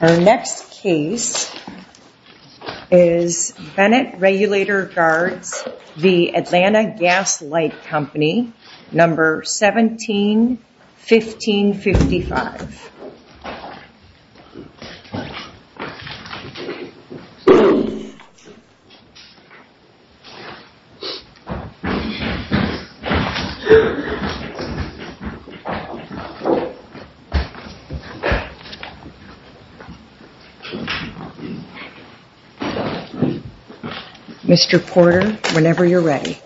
Our next case is Bennett Regulator Guards v. Atlanta Gas Light Company, No. 17-1555 Mr. Porter, whenever you're ready.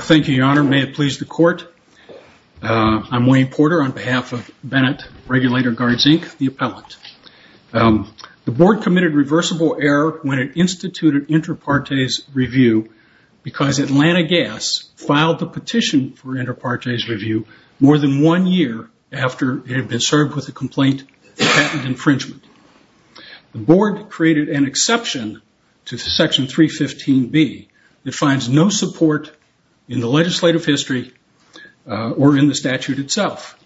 Thank you, Your Honor. May it please the Court, I'm Wayne Porter on behalf of Bennett Regulator Guards, Inc., the appellant. The Board committed reversible error when it instituted inter partes review because Atlanta Gas filed the petition for inter partes review more than one year after it had been served with a complaint of patent infringement. The Board created an exception to Section 315B that finds no support in the legislative history or in the statute itself.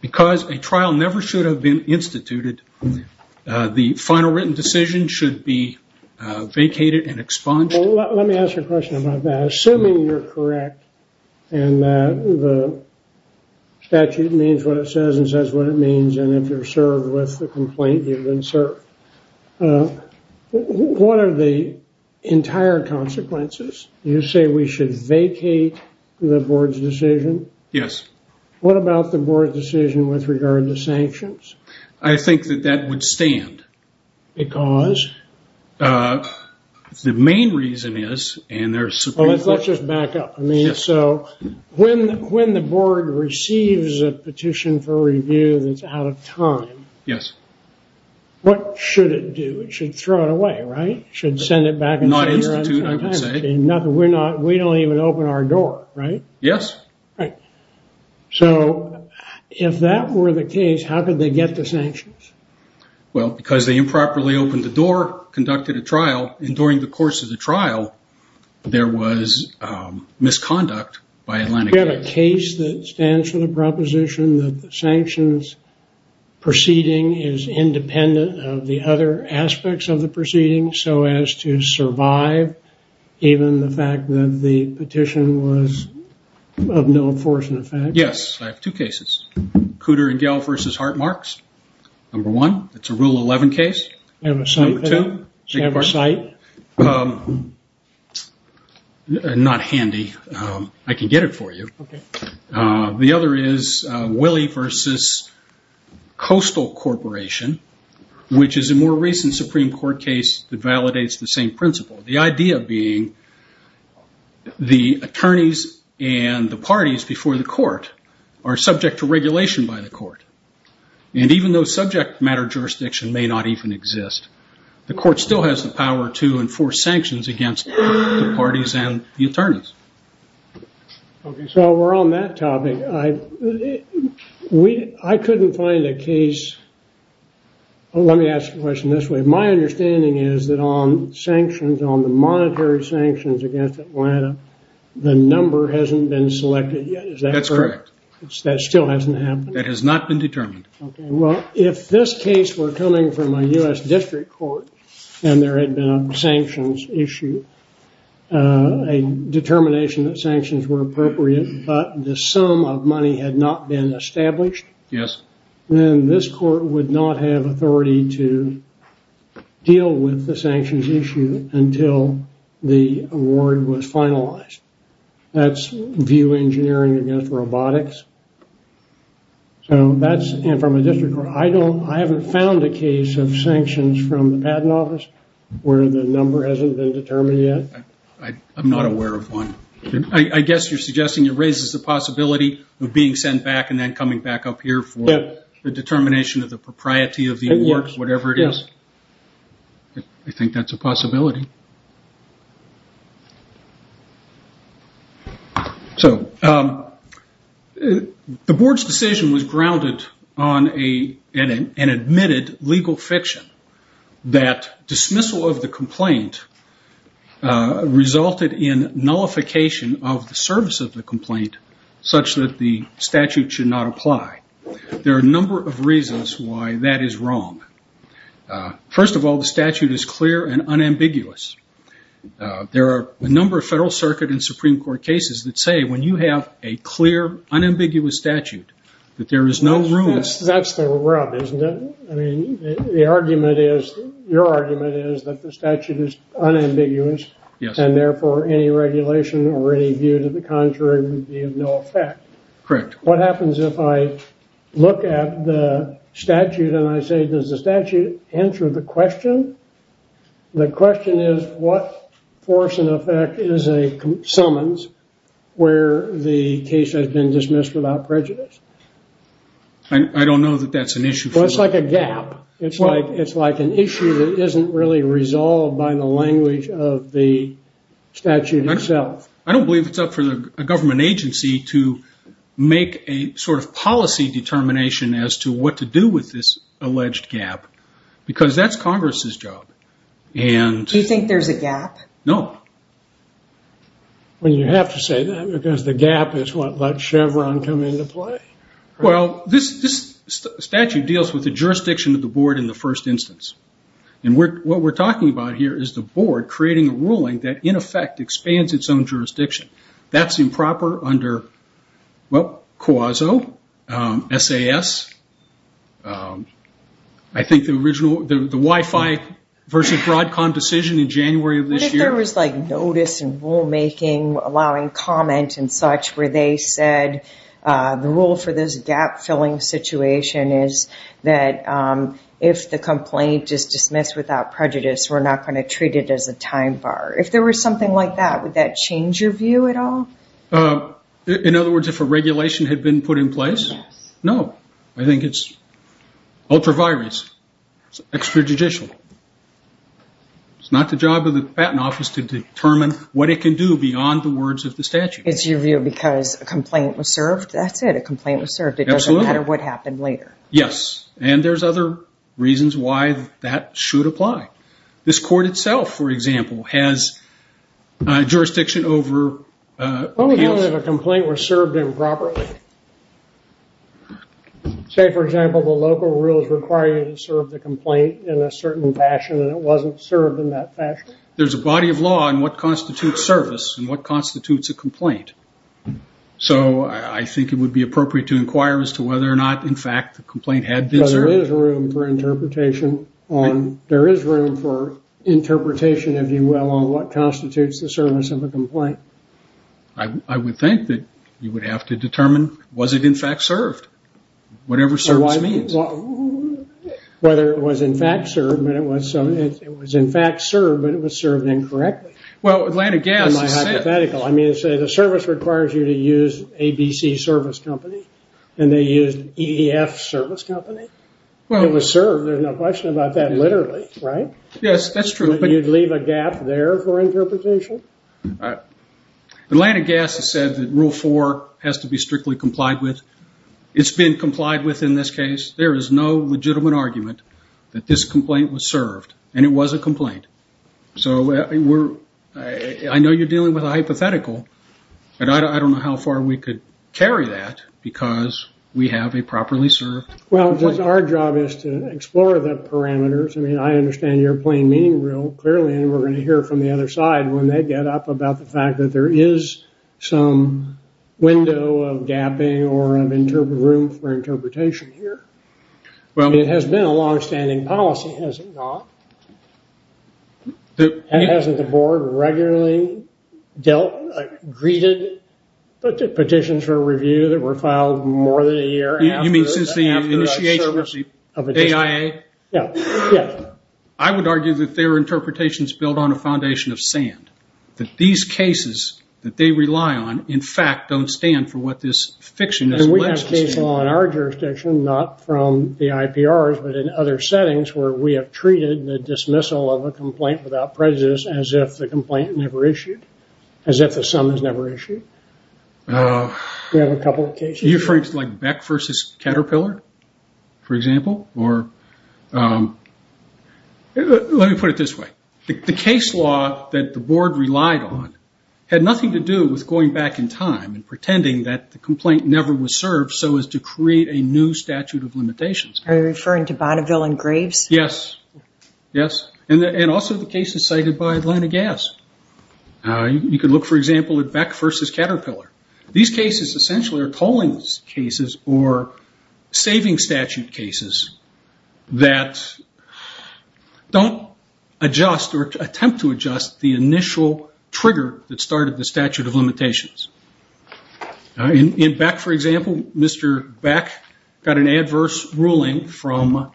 Because a trial never should have been instituted, the final written decision should be vacated and expunged. Let me ask you a question about that. Assuming you're correct and that the statute means what it says and says what it means, and if you're served with the complaint, you've been served. What are the entire consequences? You say we should vacate the Board's decision? Yes. What about the Board's decision with regard to sanctions? I think that that would stand. Because? The main reason is, and there's... Let's just back up. Yes. When the Board receives a petition for review that's out of time... Yes. What should it do? It should throw it away, right? It should send it back and forth. Not institute, I would say. We don't even open our door, right? Yes. Right. If that were the case, how could they get the sanctions? Well, because they improperly opened the door, conducted a trial, and during the course of the trial, there was misconduct by Atlantic... We have a case that stands for the proposition that the sanctions proceeding is independent of the other aspects of the proceeding, so as to survive, even the fact that the petition was of no enforcement effect. Yes. I have two cases. Cooter and Gell v. Hartmarks. Number one, it's a Rule 11 case. Do you have a site? Not handy. I can get it for you. Okay. The other is Willey v. Coastal Corporation, which is a more recent Supreme Court case that validates the same principle. The idea being the attorneys and the parties before the court are subject to regulation by the court. And even though subject matter jurisdiction may not even exist, the court still has the power to enforce sanctions against the parties and the attorneys. Okay. So we're on that topic. I couldn't find a case... Let me ask the question this way. My understanding is that on sanctions, on the monetary sanctions against Atlanta, the number hasn't been selected yet. Is that correct? That's correct. That still hasn't happened? That has not been determined. Okay. Well, if this case were coming from a U.S. District Court and there had been a sanctions issue, a determination that sanctions were appropriate, but the sum of money had not been established... Yes. ...then this court would not have authority to deal with the sanctions issue until the award was finalized. That's VIEW Engineering against Robotics. So that's from a district court. I haven't found a case of sanctions from the Patent Office where the number hasn't been determined yet. I'm not aware of one. I guess you're suggesting it raises the possibility of being sent back and then coming back up here for the determination of the propriety of the award, whatever it is. Yes. I think that's a possibility. So the board's decision was grounded on an admitted legal fiction that dismissal of the complaint resulted in nullification of the service of the complaint such that the statute should not apply. There are a number of reasons why that is wrong. First of all, the statute is clear and unambiguous. There are a number of Federal Circuit and Supreme Court cases that say when you have a clear, unambiguous statute that there is no room... That's the rub, isn't it? I mean, your argument is that the statute is unambiguous... Yes. ...and therefore any regulation or any view to the contrary would be of no effect. Correct. What happens if I look at the statute and I say, does the statute answer the question? The question is what force and effect is a summons where the case has been dismissed without prejudice? I don't know that that's an issue. Well, it's like a gap. It's like an issue that isn't really resolved by the language of the statute itself. I don't believe it's up for a government agency to make a policy determination as to what to do with this alleged gap because that's Congress' job. Do you think there's a gap? No. Well, you have to say that because the gap is what let Chevron come into play. Well, this statute deals with the jurisdiction of the board in the first instance. What we're talking about here is the board creating a ruling that, in effect, expands its own jurisdiction. That's improper under COASO, SAS, I think the Wi-Fi versus Broadcom decision in January of this year. I thought there was notice and rulemaking allowing comment and such where they said the rule for this gap-filling situation is that if the complaint is dismissed without prejudice, we're not going to treat it as a time bar. If there was something like that, would that change your view at all? In other words, if a regulation had been put in place? Yes. No. I think it's ultra-virus. It's extrajudicial. It's not the job of the Patent Office to determine what it can do beyond the words of the statute. It's your view because a complaint was served? That's it. A complaint was served. It doesn't matter what happened later. Yes. And there's other reasons why that should apply. This court itself, for example, has jurisdiction over… …if a complaint was served improperly. Say, for example, the local rules require you to serve the complaint in a certain fashion, and it wasn't served in that fashion. There's a body of law on what constitutes service and what constitutes a complaint. So I think it would be appropriate to inquire as to whether or not, in fact, the complaint had been served. There is room for interpretation, if you will, on what constitutes the service of a complaint. I would think that you would have to determine, was it, in fact, served? Whatever service means. Whether it was, in fact, served. It was, in fact, served, but it was served incorrectly. Well, Atlanta Gas… In my hypothetical. I mean, say the service requires you to use ABC Service Company, and they used EEF Service Company. It was served. There's no question about that, literally, right? Yes, that's true. But you'd leave a gap there for interpretation? Atlanta Gas has said that Rule 4 has to be strictly complied with. It's been complied with in this case. There is no legitimate argument that this complaint was served, and it was a complaint. So I know you're dealing with a hypothetical, but I don't know how far we could carry that because we have a properly served complaint. Well, our job is to explore the parameters. I mean, I understand your plain meaning real clearly, and we're going to hear from the other side when they get up about the fact that there is some window of gapping or of room for interpretation here. It has been a longstanding policy, has it not? Hasn't the board regularly greeted petitions for review that were filed more than a year after… You mean since the initiation of AIA? Yes. I would argue that their interpretation is built on a foundation of sand, that these cases that they rely on, in fact, don't stand for what this fiction is alleging. And we have case law in our jurisdiction, not from the IPRs, but in other settings where we have treated the dismissal of a complaint without prejudice as if the complaint never issued, as if the sum is never issued. We have a couple of cases… Are you referring to Beck v. Caterpillar, for example? Let me put it this way. The case law that the board relied on had nothing to do with going back in time and pretending that the complaint never was served so as to create a new statute of limitations. Are you referring to Bonneville and Graves? Yes. And also the cases cited by Atlanta Gas. You can look, for example, at Beck v. Caterpillar. These cases essentially are tolling cases or saving statute cases that don't adjust or attempt to adjust the initial trigger that started the statute of limitations. In Beck, for example, Mr. Beck got an adverse ruling from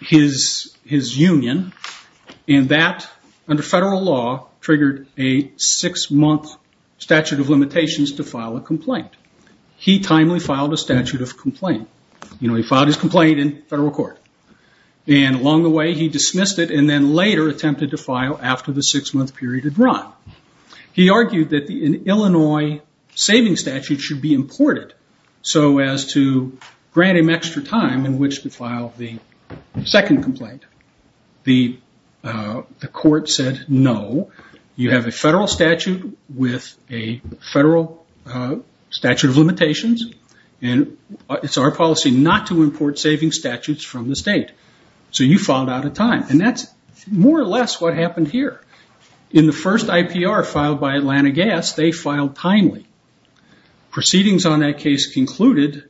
his union, and that, under federal law, triggered a six-month statute of limitations to file a complaint. He timely filed a statute of complaint. He filed his complaint in federal court. And along the way, he dismissed it and then later attempted to file after the six-month period had run. He argued that an Illinois saving statute should be imported so as to grant him extra time in which to file the second complaint. The court said, no, you have a federal statute with a federal statute of limitations, and it's our policy not to import saving statutes from the state. So you filed out of time. And that's more or less what happened here. In the first IPR filed by Atlanta Gas, they filed timely. Proceedings on that case concluded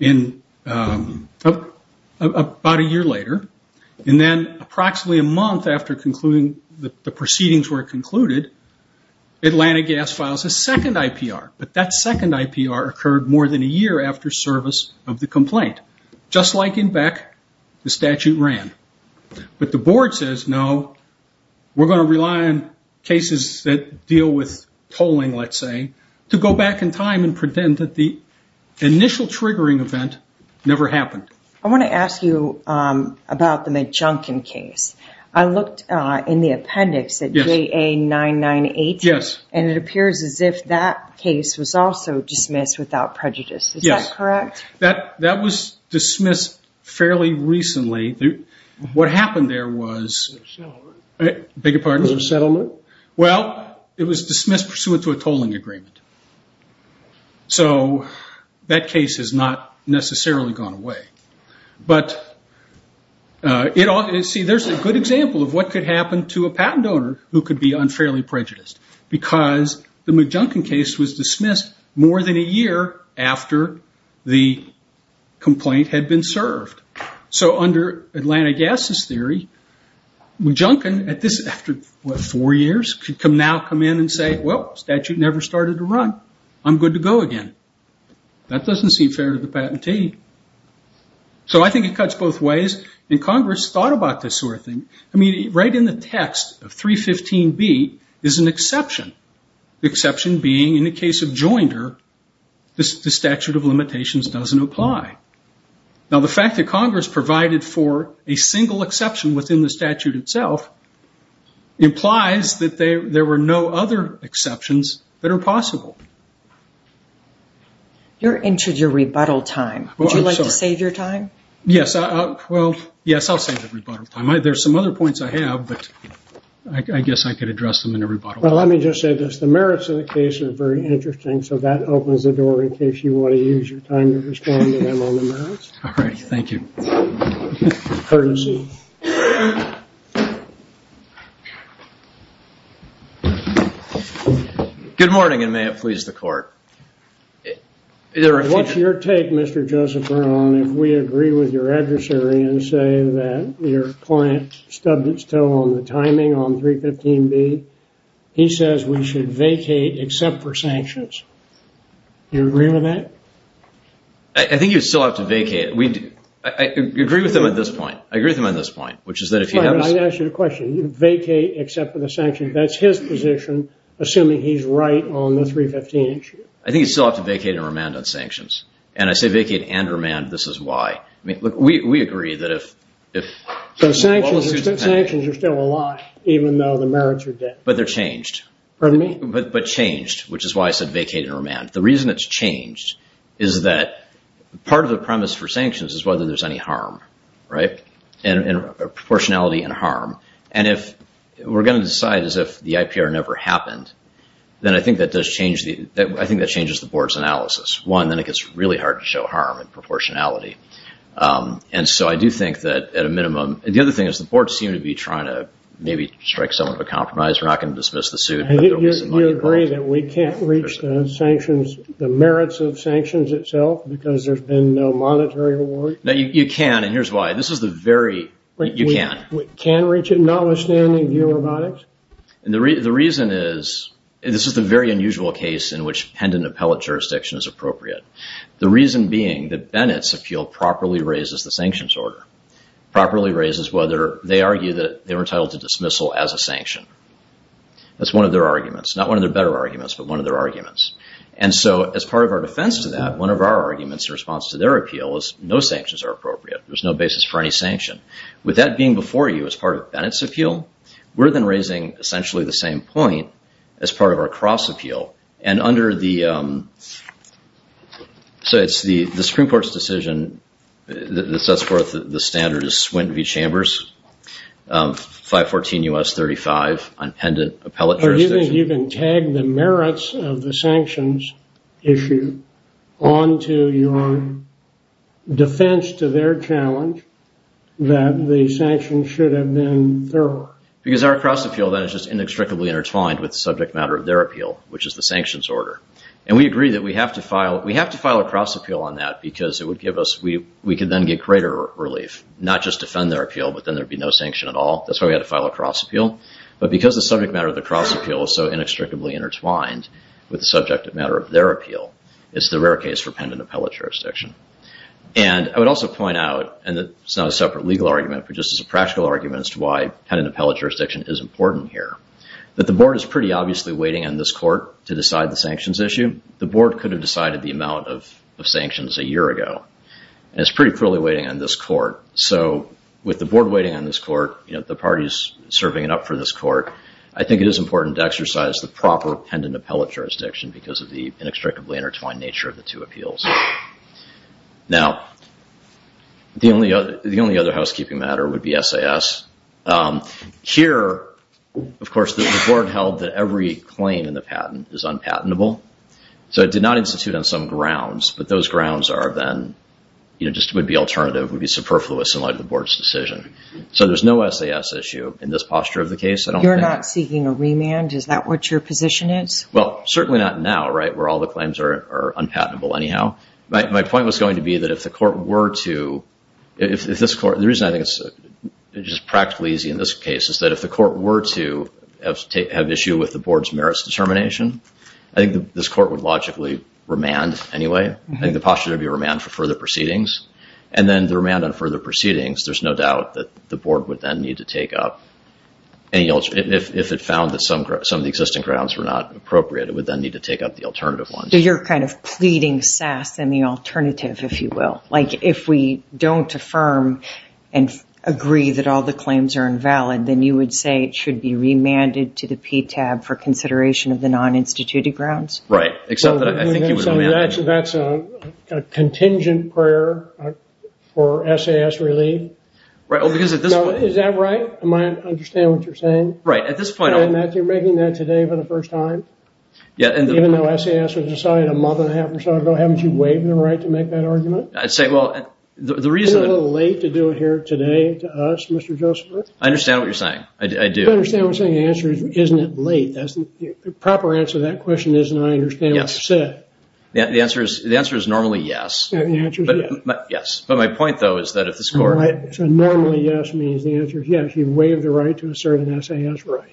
about a year later. And then approximately a month after the proceedings were concluded, Atlanta Gas files a second IPR. But that second IPR occurred more than a year after service of the complaint. Just like in Beck, the statute ran. But the board says, no, we're going to rely on cases that deal with tolling, let's say, to go back in time and pretend that the initial triggering event never happened. I want to ask you about the McJunkin case. I looked in the appendix at JA998, and it appears as if that case was also dismissed without prejudice. Is that correct? That was dismissed fairly recently. What happened there was... A settlement. I beg your pardon? A settlement. Well, it was dismissed pursuant to a tolling agreement. So that case has not necessarily gone away. But there's a good example of what could happen to a patent owner who could be unfairly prejudiced. Because the McJunkin case was dismissed more than a year after the complaint had been served. So under Atlanta Gas's theory, McJunkin, after four years, could now come in and say, well, statute never started to run. I'm good to go again. That doesn't seem fair to the patentee. So I think it cuts both ways. And Congress thought about this sort of thing. I mean, right in the text of 315B is an exception. The exception being in the case of Joinder, the statute of limitations doesn't apply. Now, the fact that Congress provided for a single exception within the statute itself implies that there were no other exceptions that are possible. You're into your rebuttal time. Would you like to save your time? Yes. Well, yes, I'll save the rebuttal time. There are some other points I have, but I guess I could address them in a rebuttal. Well, let me just say this. The merits of the case are very interesting. So that opens the door in case you want to use your time to respond to them on the merits. All right. Thank you. Good morning, and may it please the Court. What's your take, Mr. Joseph Brown, if we agree with your adversary and say that your client stubbed its toe on the timing on 315B? He says we should vacate except for sanctions. Do you agree with that? I think you still have to vacate. I agree with him on this point. I agree with him on this point, which is that if he has— All right, let me ask you a question. You vacate except for the sanctions. That's his position, assuming he's right on the 315 issue. I think you still have to vacate and remand on sanctions. And I say vacate and remand. This is why. We agree that if— But sanctions are still a lie, even though the merits are dead. But they're changed. Pardon me? But changed, which is why I said vacate and remand. The reason it's changed is that part of the premise for sanctions is whether there's any harm, right, and proportionality and harm. And if we're going to decide as if the IPR never happened, then I think that does change the— I think that changes the board's analysis. One, then it gets really hard to show harm and proportionality. And so I do think that at a minimum— And the other thing is the boards seem to be trying to maybe strike some sort of a compromise. We're not going to dismiss the suit. You agree that we can't reach the sanctions, the merits of sanctions itself, because there's been no monetary reward? No, you can, and here's why. This is the very— You can. We can reach it, notwithstanding georobotics? The reason is—this is the very unusual case in which pendant appellate jurisdiction is appropriate. The reason being that Bennett's appeal properly raises the sanctions order, properly raises whether they argue that they were entitled to dismissal as a sanction. That's one of their arguments. Not one of their better arguments, but one of their arguments. And so as part of our defense to that, one of our arguments in response to their appeal is no sanctions are appropriate. There's no basis for any sanction. With that being before you as part of Bennett's appeal, we're then raising essentially the same point as part of our cross appeal. And under the—so it's the Supreme Court's decision that sets forth the standard is Swinton v. Chambers, 514 U.S. 35, on pendant appellate jurisdiction. You didn't even tag the merits of the sanctions issue onto your defense to their challenge that the sanctions should have been thorough. Because our cross appeal then is just inextricably intertwined with the subject matter of their appeal, which is the sanctions order. And we agree that we have to file—we have to file a cross appeal on that because it would give us— we could then get greater relief. Not just defend their appeal, but then there'd be no sanction at all. That's why we had to file a cross appeal. But because the subject matter of the cross appeal is so inextricably intertwined with the subject matter of their appeal, it's the rare case for pendant appellate jurisdiction. And I would also point out, and it's not a separate legal argument, but just as a practical argument as to why pendant appellate jurisdiction is important here, that the board is pretty obviously waiting on this court to decide the sanctions issue. The board could have decided the amount of sanctions a year ago. And it's pretty clearly waiting on this court. So with the board waiting on this court, you know, the parties serving it up for this court, I think it is important to exercise the proper pendant appellate jurisdiction because of the inextricably intertwined nature of the two appeals. Now, the only other housekeeping matter would be SAS. Here, of course, the board held that every claim in the patent is unpatentable. So it did not institute on some grounds. But those grounds are then, you know, just would be alternative, would be superfluous in light of the board's decision. So there's no SAS issue in this posture of the case. You're not seeking a remand? Is that what your position is? Well, certainly not now, right, where all the claims are unpatentable anyhow. My point was going to be that if the court were to, if this court, the reason I think it's just practically easy in this case is that if the court were to have issue with the board's merits determination, I think this court would logically remand anyway. I think the posture would be remand for further proceedings. And then the remand on further proceedings, there's no doubt that the board would then need to take up any alternative. If it found that some of the existing grounds were not appropriate, it would then need to take up the alternative ones. So you're kind of pleading SAS in the alternative, if you will. Like if we don't affirm and agree that all the claims are invalid, then you would say it should be remanded to the PTAB for consideration of the non-instituted grounds. Right. So that's a contingent prayer for SAS relief? Right. Is that right? I understand what you're saying. Right. At this point. You're making that today for the first time? Yeah. Even though SAS was decided a month and a half or so ago, haven't you waived the right to make that argument? I'd say, well, the reason. Isn't it a little late to do it here today to us, Mr. Joseph? I understand what you're saying. I do. I understand what you're saying. The answer is, isn't it late? The proper answer to that question is, and I understand what you said. Yes. The answer is normally yes. The answer is yes. Yes. But my point, though, is that if this court. So normally yes means the answer is yes. You waived the right to assert an SAS right.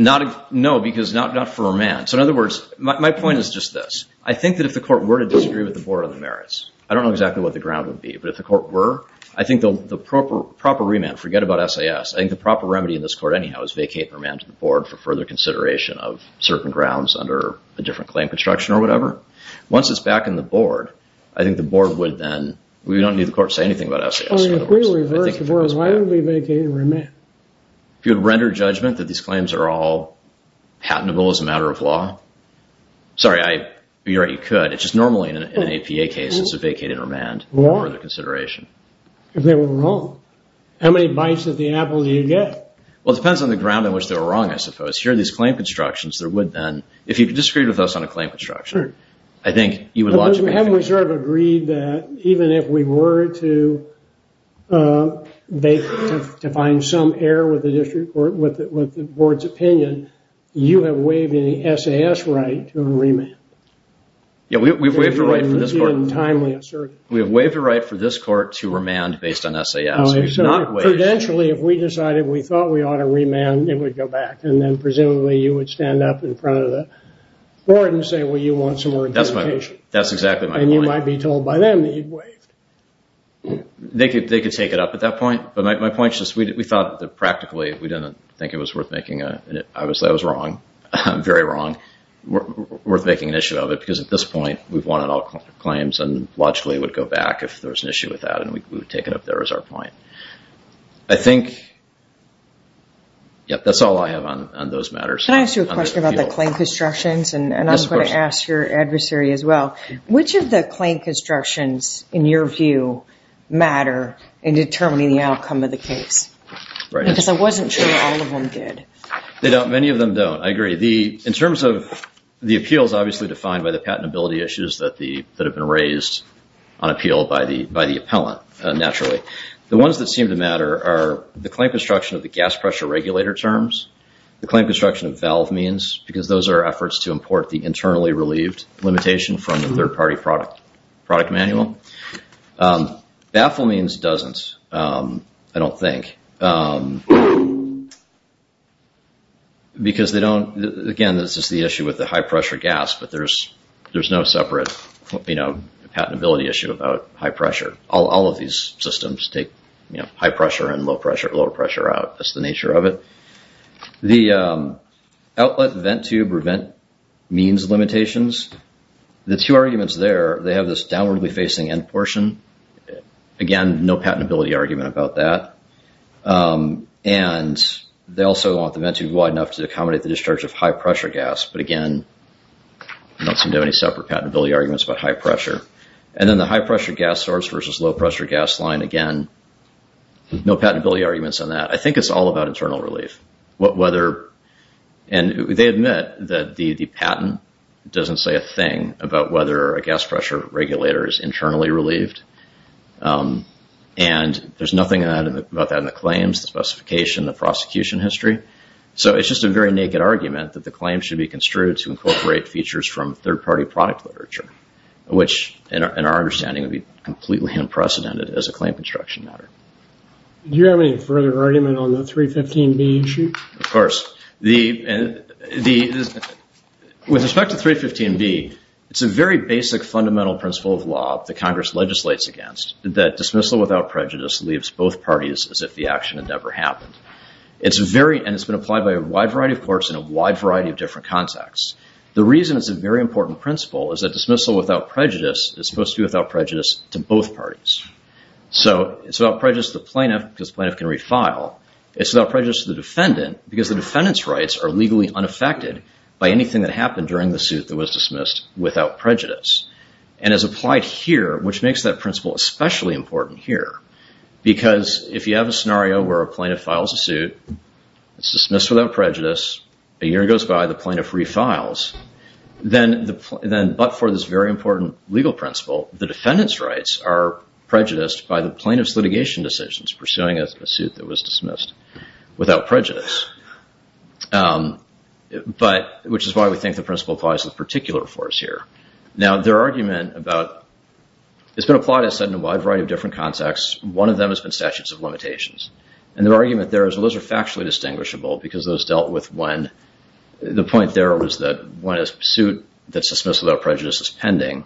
No, because not for remand. So in other words, my point is just this. I think that if the court were to disagree with the Board on the Merits, I don't know exactly what the ground would be, but if the court were, I think the proper remand, forget about SAS. I think the proper remedy in this court, anyhow, is vacate and remand to the Board for further consideration of certain grounds under a different claim construction or whatever. Once it's back in the Board, I think the Board would then. We don't need the court to say anything about SAS. If we were to reverse the Board, why would we vacate and remand? If you would render judgment that these claims are all patentable as a matter of law. Sorry, you're right, you could. It's just normally in an APA case, it's a vacate and remand for further consideration. If they were wrong. How many bites of the apple do you get? Well, it depends on the ground on which they were wrong, I suppose. Here are these claim constructions. If you could disagree with us on a claim construction, I think you would logically. Haven't we sort of agreed that even if we were to find some error with the Board's opinion, you have waived any SAS right to a remand? Yeah, we've waived a right for this court. We have waived a right for this court to remand based on SAS. Oh, I'm sorry. Prudentially, if we decided we thought we ought to remand, it would go back. And then presumably you would stand up in front of the Board and say, well, you want some more justification. That's exactly my point. And you might be told by them that you've waived. They could take it up at that point. But my point is just we thought that practically, we didn't think it was worth making it. Obviously, I was wrong, very wrong, worth making an issue of it. Because at this point, we've won on all claims, and logically it would go back if there was an issue with that, and we would take it up there as our point. I think that's all I have on those matters. Can I ask you a question about the claim constructions? Yes, of course. And I'm going to ask your adversary as well. Which of the claim constructions, in your view, matter in determining the outcome of the case? Because I wasn't sure all of them did. Many of them don't. I agree. In terms of the appeals, obviously defined by the patentability issues that have been raised on appeal by the appellant, naturally. The ones that seem to matter are the claim construction of the gas pressure regulator terms, the claim construction of valve means, because those are efforts to import the internally relieved limitation from the third-party product manual. Baffle means doesn't, I don't think. Because they don't, again, this is the issue with the high-pressure gas, but there's no separate patentability issue about high pressure. All of these systems take high pressure and low pressure, lower pressure out. That's the nature of it. The outlet vent tube or vent means limitations, the two arguments there, they have this downwardly facing end portion. Again, no patentability argument about that. And they also want the vent tube wide enough to accommodate the discharge of high-pressure gas, but again, not seem to have any separate patentability arguments about high pressure. And then the high-pressure gas source versus low-pressure gas line, again, no patentability arguments on that. I think it's all about internal relief. And they admit that the patent doesn't say a thing about whether a gas pressure regulator is internally relieved. And there's nothing about that in the claims, the specification, the prosecution history. So it's just a very naked argument that the claim should be construed to incorporate features from third-party product literature, which in our understanding would be completely unprecedented as a claim construction matter. Do you have any further argument on the 315B issue? Of course. With respect to 315B, it's a very basic fundamental principle of law that Congress legislates against, that dismissal without prejudice leaves both parties as if the action had never happened. And it's been applied by a wide variety of courts in a wide variety of different contexts. The reason it's a very important principle is that dismissal without prejudice is supposed to be without prejudice to both parties. So it's without prejudice to the plaintiff because the plaintiff can refile. It's without prejudice to the defendant because the defendant's rights are legally unaffected by anything that happened during the suit that was dismissed without prejudice. And it's applied here, which makes that principle especially important here, because if you have a scenario where a plaintiff files a suit, it's dismissed without prejudice, a year goes by, the plaintiff refiles, then but for this very important legal principle, the defendant's rights are prejudiced by the plaintiff's litigation decisions, pursuing a suit that was dismissed without prejudice, which is why we think the principle applies in particular for us here. Now, their argument about – it's been applied, as I said, in a wide variety of different contexts. One of them has been statutes of limitations. And their argument there is, well, those are factually distinguishable because those dealt with when – the point there was that when a suit that's dismissed without prejudice is pending,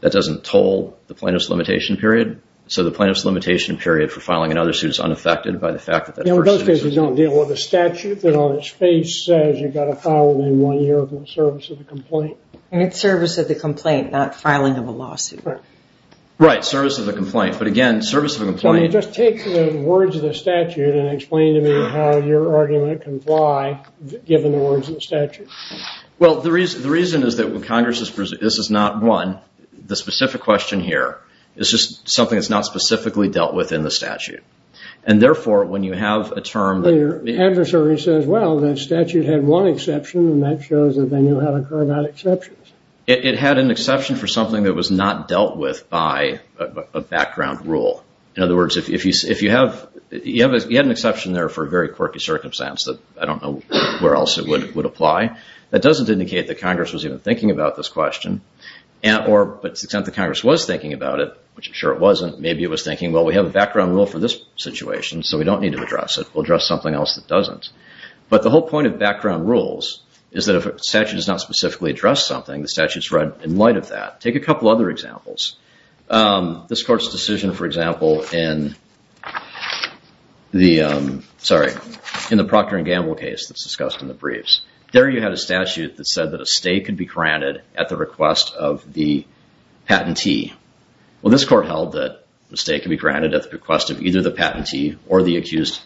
that doesn't toll the plaintiff's limitation period. So the plaintiff's limitation period for filing another suit is unaffected by the fact that that person – Yeah, well, those cases don't deal with a statute that on its face says you've got to file it in one year for the service of the complaint. And it's service of the complaint, not filing of a lawsuit. Right, service of the complaint. But again, service of the complaint – Can you just take the words of the statute and explain to me how your argument can fly, given the words of the statute? Well, the reason is that when Congress is – this is not one. The specific question here is just something that's not specifically dealt with in the statute. And therefore, when you have a term that – When your adversary says, well, that statute had one exception, and that shows that they knew how to carve out exceptions. It had an exception for something that was not dealt with by a background rule. In other words, if you have – you had an exception there for a very quirky circumstance that I don't know where else it would apply. That doesn't indicate that Congress was even thinking about this question. Or, but since the Congress was thinking about it, which I'm sure it wasn't, maybe it was thinking, well, we have a background rule for this situation, so we don't need to address it. We'll address something else that doesn't. But the whole point of background rules is that if a statute does not specifically address something, the statute's right in light of that. Take a couple other examples. This Court's decision, for example, in the – sorry. In the Procter & Gamble case that's discussed in the briefs. There you had a statute that said that a stay could be granted at the request of the patentee. Well, this Court held that a stay could be granted at the request of either the patentee or the accused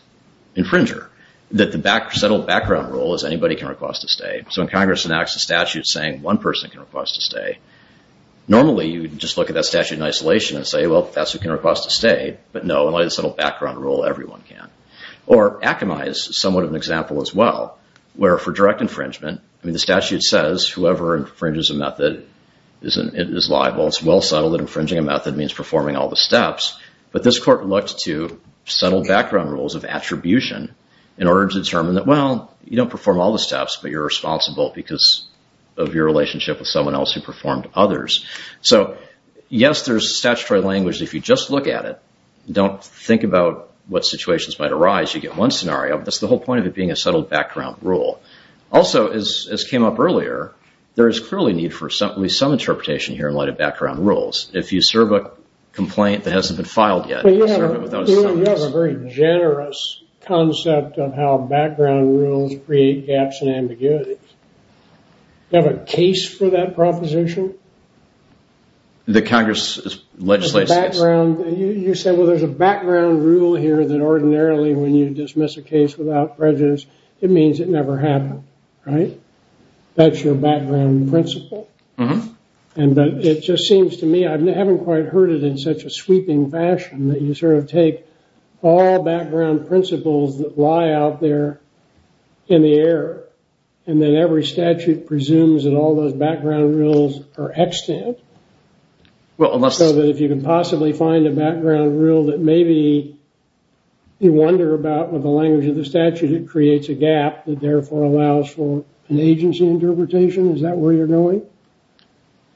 infringer, that the settled background rule is anybody can request a stay. So when Congress enacts a statute saying one person can request a stay, normally you would just look at that statute in isolation and say, well, that's who can request a stay. But no, in light of the settled background rule, everyone can. Or Akamai is somewhat of an example as well, where for direct infringement, I mean the statute says whoever infringes a method is liable. It's well settled that infringing a method means performing all the steps. But this Court looked to settled background rules of attribution in order to determine that, well, you don't perform all the steps, but you're responsible because of your relationship with someone else who performed others. So, yes, there's statutory language. If you just look at it, don't think about what situations might arise, you get one scenario. That's the whole point of it being a settled background rule. Also, as came up earlier, there is clearly need for some interpretation here in light of background rules. If you serve a complaint that hasn't been filed yet. You have a very generous concept of how background rules create gaps and ambiguities. Do you have a case for that proposition? The Congress legislated against it. You said, well, there's a background rule here that ordinarily when you dismiss a case without prejudice, it means it never happened, right? That's your background principle. It just seems to me, I haven't quite heard it in such a sweeping fashion, that you sort of take all background principles that lie out there in the air, and then every statute presumes that all those background rules are extant. So that if you can possibly find a background rule that maybe you wonder about with the language of the statute, it creates a gap that therefore allows for an agency interpretation. Is that where you're going?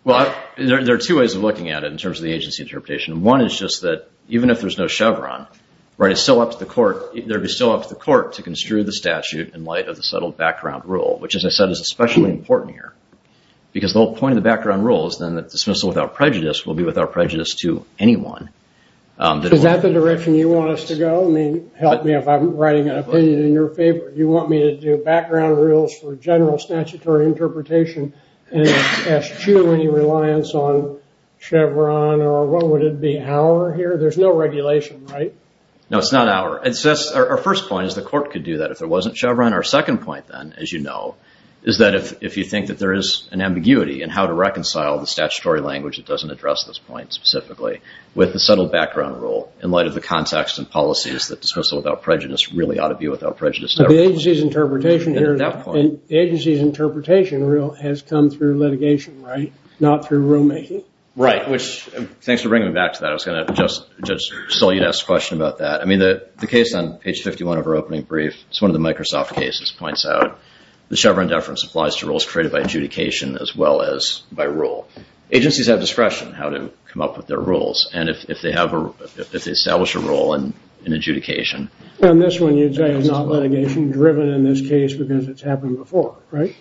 Well, there are two ways of looking at it in terms of the agency interpretation. One is just that even if there's no Chevron, it's still up to the court to construe the statute in light of the settled background rule, which, as I said, is especially important here. Because the whole point of the background rule is then that dismissal without prejudice will be without prejudice to anyone. Is that the direction you want us to go? I mean, help me if I'm writing an opinion in your favor. You want me to do background rules for general statutory interpretation and ask you any reliance on Chevron or what would it be, our here? There's no regulation, right? No, it's not our. Our first point is the court could do that if there wasn't Chevron. Our second point, then, as you know, is that if you think that there is an ambiguity in how to reconcile the statutory language that doesn't address this point specifically with the settled background rule in light of the context and policies that dismissal without prejudice really ought to be without prejudice. The agency's interpretation has come through litigation, right? Not through rulemaking. Right. Thanks for bringing me back to that. I was going to just tell you to ask a question about that. I mean, the case on page 51 of our opening brief, it's one of the Microsoft cases, points out the Chevron deference applies to rules created by adjudication as well as by rule. Agencies have discretion how to come up with their rules. And if they establish a rule in adjudication. On this one, you'd say it's not litigation driven in this case because it's happened before, right?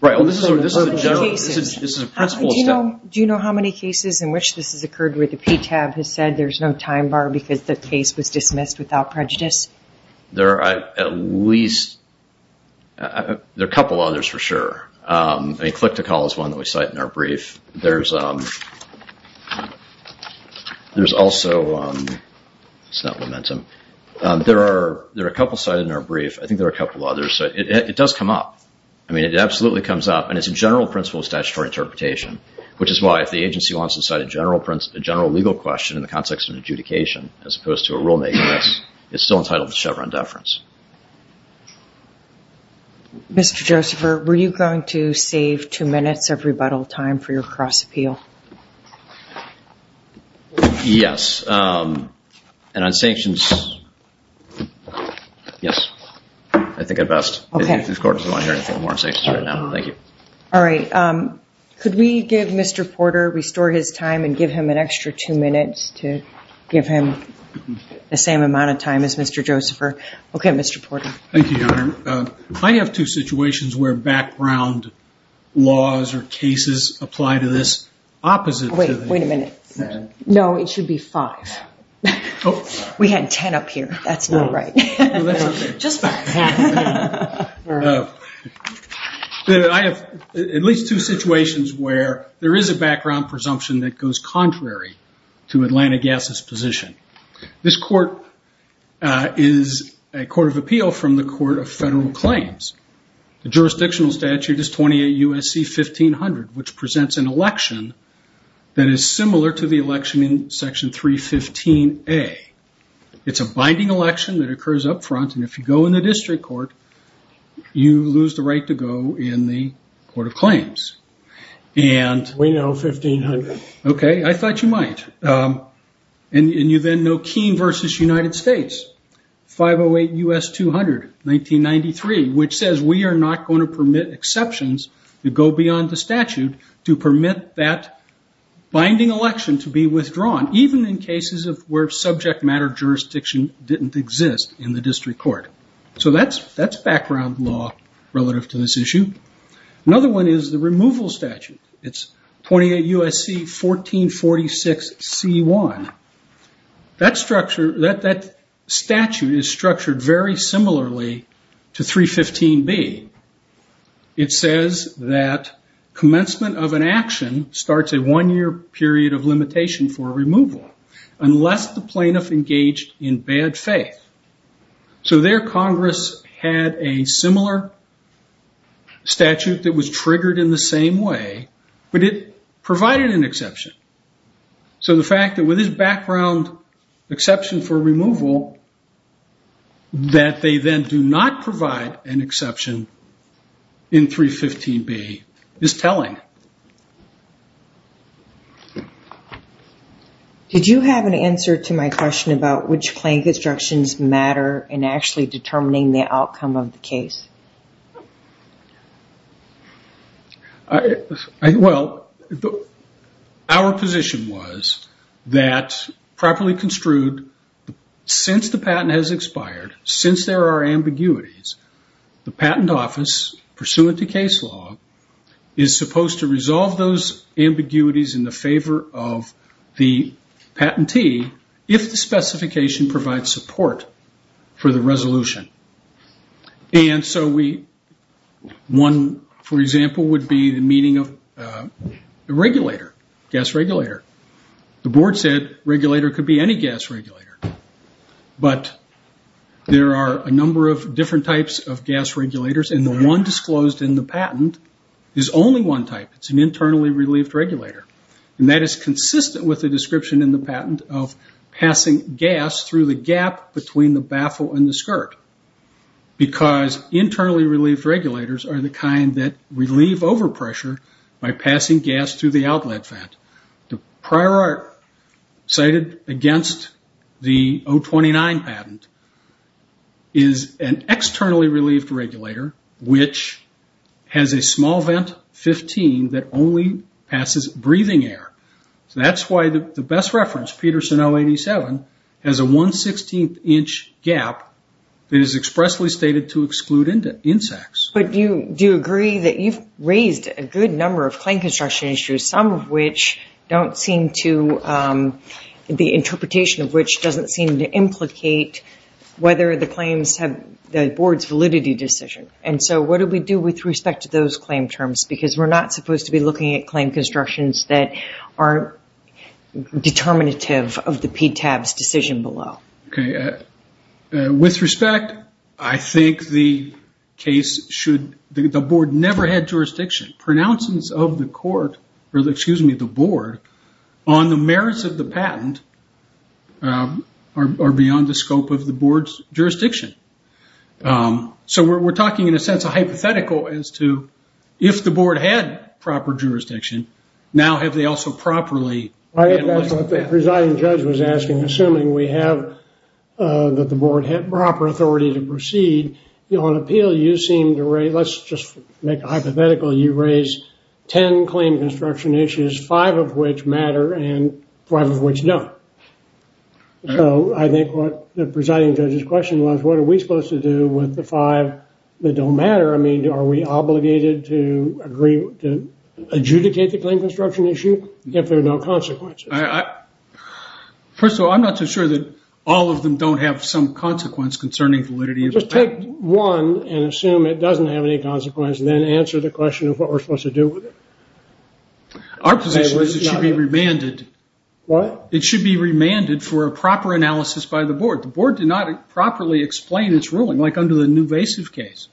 Right. This is a principle step. Do you know how many cases in which this has occurred where the PTAB has said there's no time bar because the case was dismissed without prejudice? There are at least a couple others for sure. A click to call is one that we cite in our brief. There's also, it's not momentum. There are a couple cited in our brief. I think there are a couple others. It does come up. I mean, it absolutely comes up. And it's a general principle of statutory interpretation, which is why if the agency wants to cite a general legal question in the context of adjudication as opposed to a rulemaking case, it's still entitled to Chevron deference. Mr. Josepher, were you going to save two minutes of rebuttal time for your cross-appeal? Yes. And on sanctions, yes. I think at best. Okay. This court doesn't want to hear anything more on sanctions right now. Thank you. All right. Could we give Mr. Porter, restore his time and give him an extra two minutes to give him the same amount of time as Mr. Porter. Thank you, Your Honor. I have two situations where background laws or cases apply to this opposite. Wait a minute. No, it should be five. We had 10 up here. That's not right. Just back. I have at least two situations where there is a background presumption that goes contrary to Atlanta Gas's position. This court is a court of appeal from the Court of Federal Claims. The jurisdictional statute is 28 U.S.C. 1500, which presents an election that is similar to the election in Section 315A. It's a binding election that occurs up front, and if you go in the district court, you lose the right to go in the Court of Claims. We know 1500. Okay. I thought you might. You then know Keene versus United States. 508 U.S. 200, 1993, which says we are not going to permit exceptions to go beyond the statute to permit that binding election to be withdrawn, even in cases where subject matter jurisdiction didn't exist in the district court. That's background law relative to this issue. Another one is the removal statute. It's 28 U.S.C. 1446C1. That statute is structured very similarly to 315B. It says that commencement of an action starts a one-year period of limitation for removal unless the plaintiff engaged in bad faith. So there, Congress had a similar statute that was triggered in the same way, but it provided an exception. So the fact that with this background exception for removal, that they then do not provide an exception in 315B is telling. Did you have an answer to my question about which claim constructions matter in actually determining the outcome of the case? Well, our position was that properly construed, since the patent has expired, since there are ambiguities, the patent office, pursuant to case law, is supposed to resolve those ambiguities in the favor of the patentee if the specification provides support for the resolution. And so one, for example, would be the meaning of regulator, gas regulator. The board said regulator could be any gas regulator. But there are a number of different types of gas regulators, and the one disclosed in the patent is only one type. It's an internally relieved regulator. And that is consistent with the description in the patent of passing gas through the gap between the baffle and the skirt, because internally relieved regulators are the kind that relieve overpressure by passing gas through the outlet vent. The prior art cited against the 029 patent is an externally relieved regulator, which has a small vent, 15, that only passes breathing air. So that's why the best reference, Peterson 087, has a 1 16th inch gap that is expressly stated to exclude insects. But do you agree that you've raised a good number of claim construction issues, some of which don't seem to, the interpretation of which doesn't seem to implicate whether the claims have the board's validity decision. And so what do we do with respect to those claim terms? Because we're not supposed to be looking at claim constructions that aren't determinative of the PTAB's decision below. With respect, I think the case should, the board never had jurisdiction. Pronouncings of the court, or excuse me, the board, on the merits of the patent are beyond the scope of the board's jurisdiction. So we're talking, in a sense, a hypothetical as to if the board had proper jurisdiction, now have they also properly. I think that's what the presiding judge was asking. Assuming we have, that the board had proper authority to proceed. On appeal, you seem to raise, let's just make a hypothetical. You raise 10 claim construction issues, five of which matter and five of which don't. So I think what the presiding judge's question was, what are we supposed to do with the five that don't matter? I mean, are we obligated to adjudicate the claim construction issue if there are no consequences? First of all, I'm not so sure that all of them don't have some consequence concerning validity of the patent. Just take one and assume it doesn't have any consequence and then answer the question of what we're supposed to do with it. Our position is it should be remanded. What? It should be remanded for a proper analysis by the board. The board did not properly explain its ruling, like under the Nuvasiv case.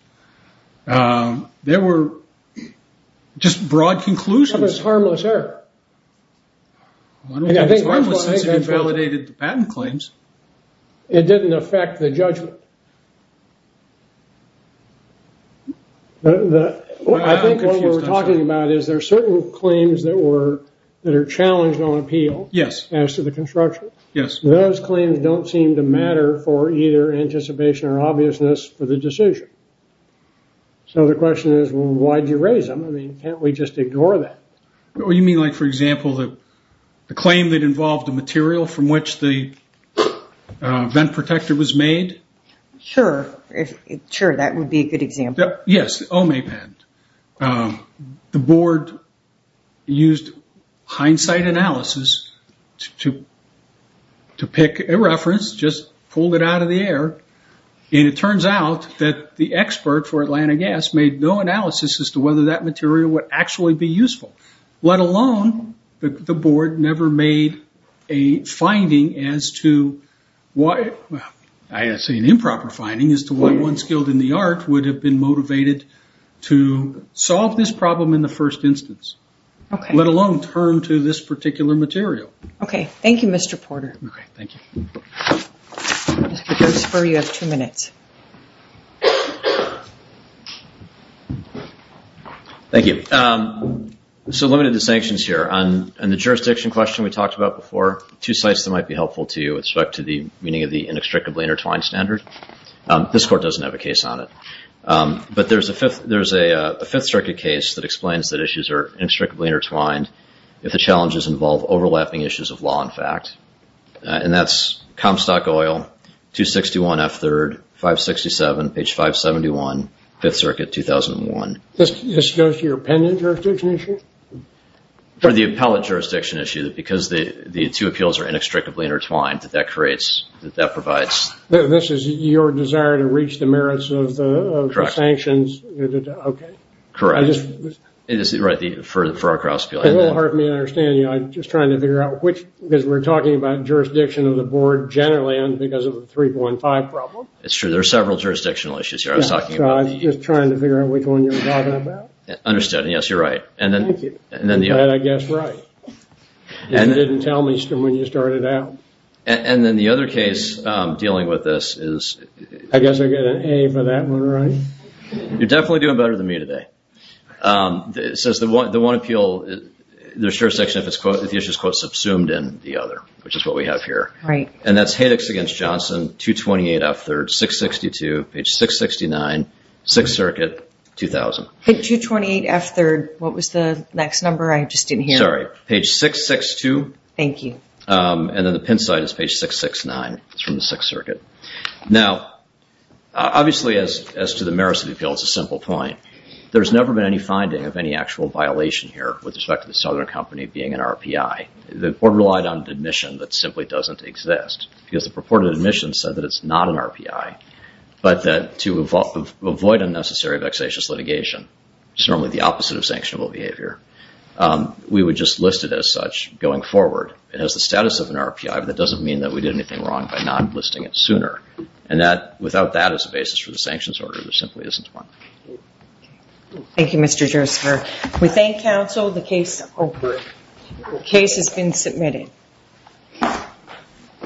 There were just broad conclusions. It's a harmless error. I don't think it's harmless since it invalidated the patent claims. It didn't affect the judgment. I think what we were talking about is there are certain claims that are challenged on appeal as to the construction. Yes. Those claims don't seem to matter for either anticipation or obviousness for the decision. So the question is, well, why did you raise them? I mean, can't we just ignore that? You mean, like, for example, the claim that involved the material from which the vent protector was made? Sure. Sure, that would be a good example. Yes, Omay patent. The board used hindsight analysis to pick a reference, just pulled it out of the air. It turns out that the expert for Atlanta Gas made no analysis as to whether that material would actually be useful. Let alone, the board never made a finding as to why, I'd say an improper finding as to why one skilled in the art would have been motivated to solve this problem in the first instance. Okay. Let alone turn to this particular material. Okay. Thank you, Mr. Porter. Okay. Thank you. Mr. Gersper, you have two minutes. Thank you. So limited to sanctions here. On the jurisdiction question we talked about before, two sites that might be helpful to you with respect to the meaning of the inextricably intertwined standard. This court doesn't have a case on it. But there's a Fifth Circuit case that explains that issues are inextricably intertwined if the challenges involve overlapping issues of law and fact. And that's Comstock Oil, 261F3rd, 567, page 571, Fifth Circuit, 2001. This goes to your opinion jurisdiction issue? For the appellate jurisdiction issue, because the two appeals are inextricably intertwined, that creates, that provides. This is your desire to reach the merits of the sanctions? Correct. Okay. Correct. For our cross-appeal. It will hurt me to understand you. I'm just trying to figure out which, because we're talking about jurisdiction of the board generally because of the 3.5 problem. It's true. There are several jurisdictional issues here I was talking about. I'm just trying to figure out which one you're talking about. Understood. And yes, you're right. Thank you. I guess right. You didn't tell me when you started out. And then the other case dealing with this is. I guess I get an A for that one, right? You're definitely doing better than me today. It says the one appeal, the sure section if the issue is quote subsumed in the other, which is what we have here. Right. And that's Hadex against Johnson, 228F3rd, 662, page 669, 6th Circuit, 2000. 228F3rd, what was the next number? I just didn't hear. Sorry. Page 662. Thank you. And then the pen side is page 669. It's from the 6th Circuit. Now, obviously as to the merits of the appeal, it's a simple point. There's never been any finding of any actual violation here with respect to the Southern Company being an RPI. The court relied on an admission that simply doesn't exist because the purported admission said that it's not an RPI, but that to avoid unnecessary vexatious litigation, which is normally the opposite of sanctionable behavior, we would just list it as such going forward. It has the status of an RPI, but that doesn't mean that we did anything wrong by not listing it sooner. Without that as a basis for the sanctions order, there simply isn't one. Thank you, Mr. Josepher. We thank counsel. The case has been submitted.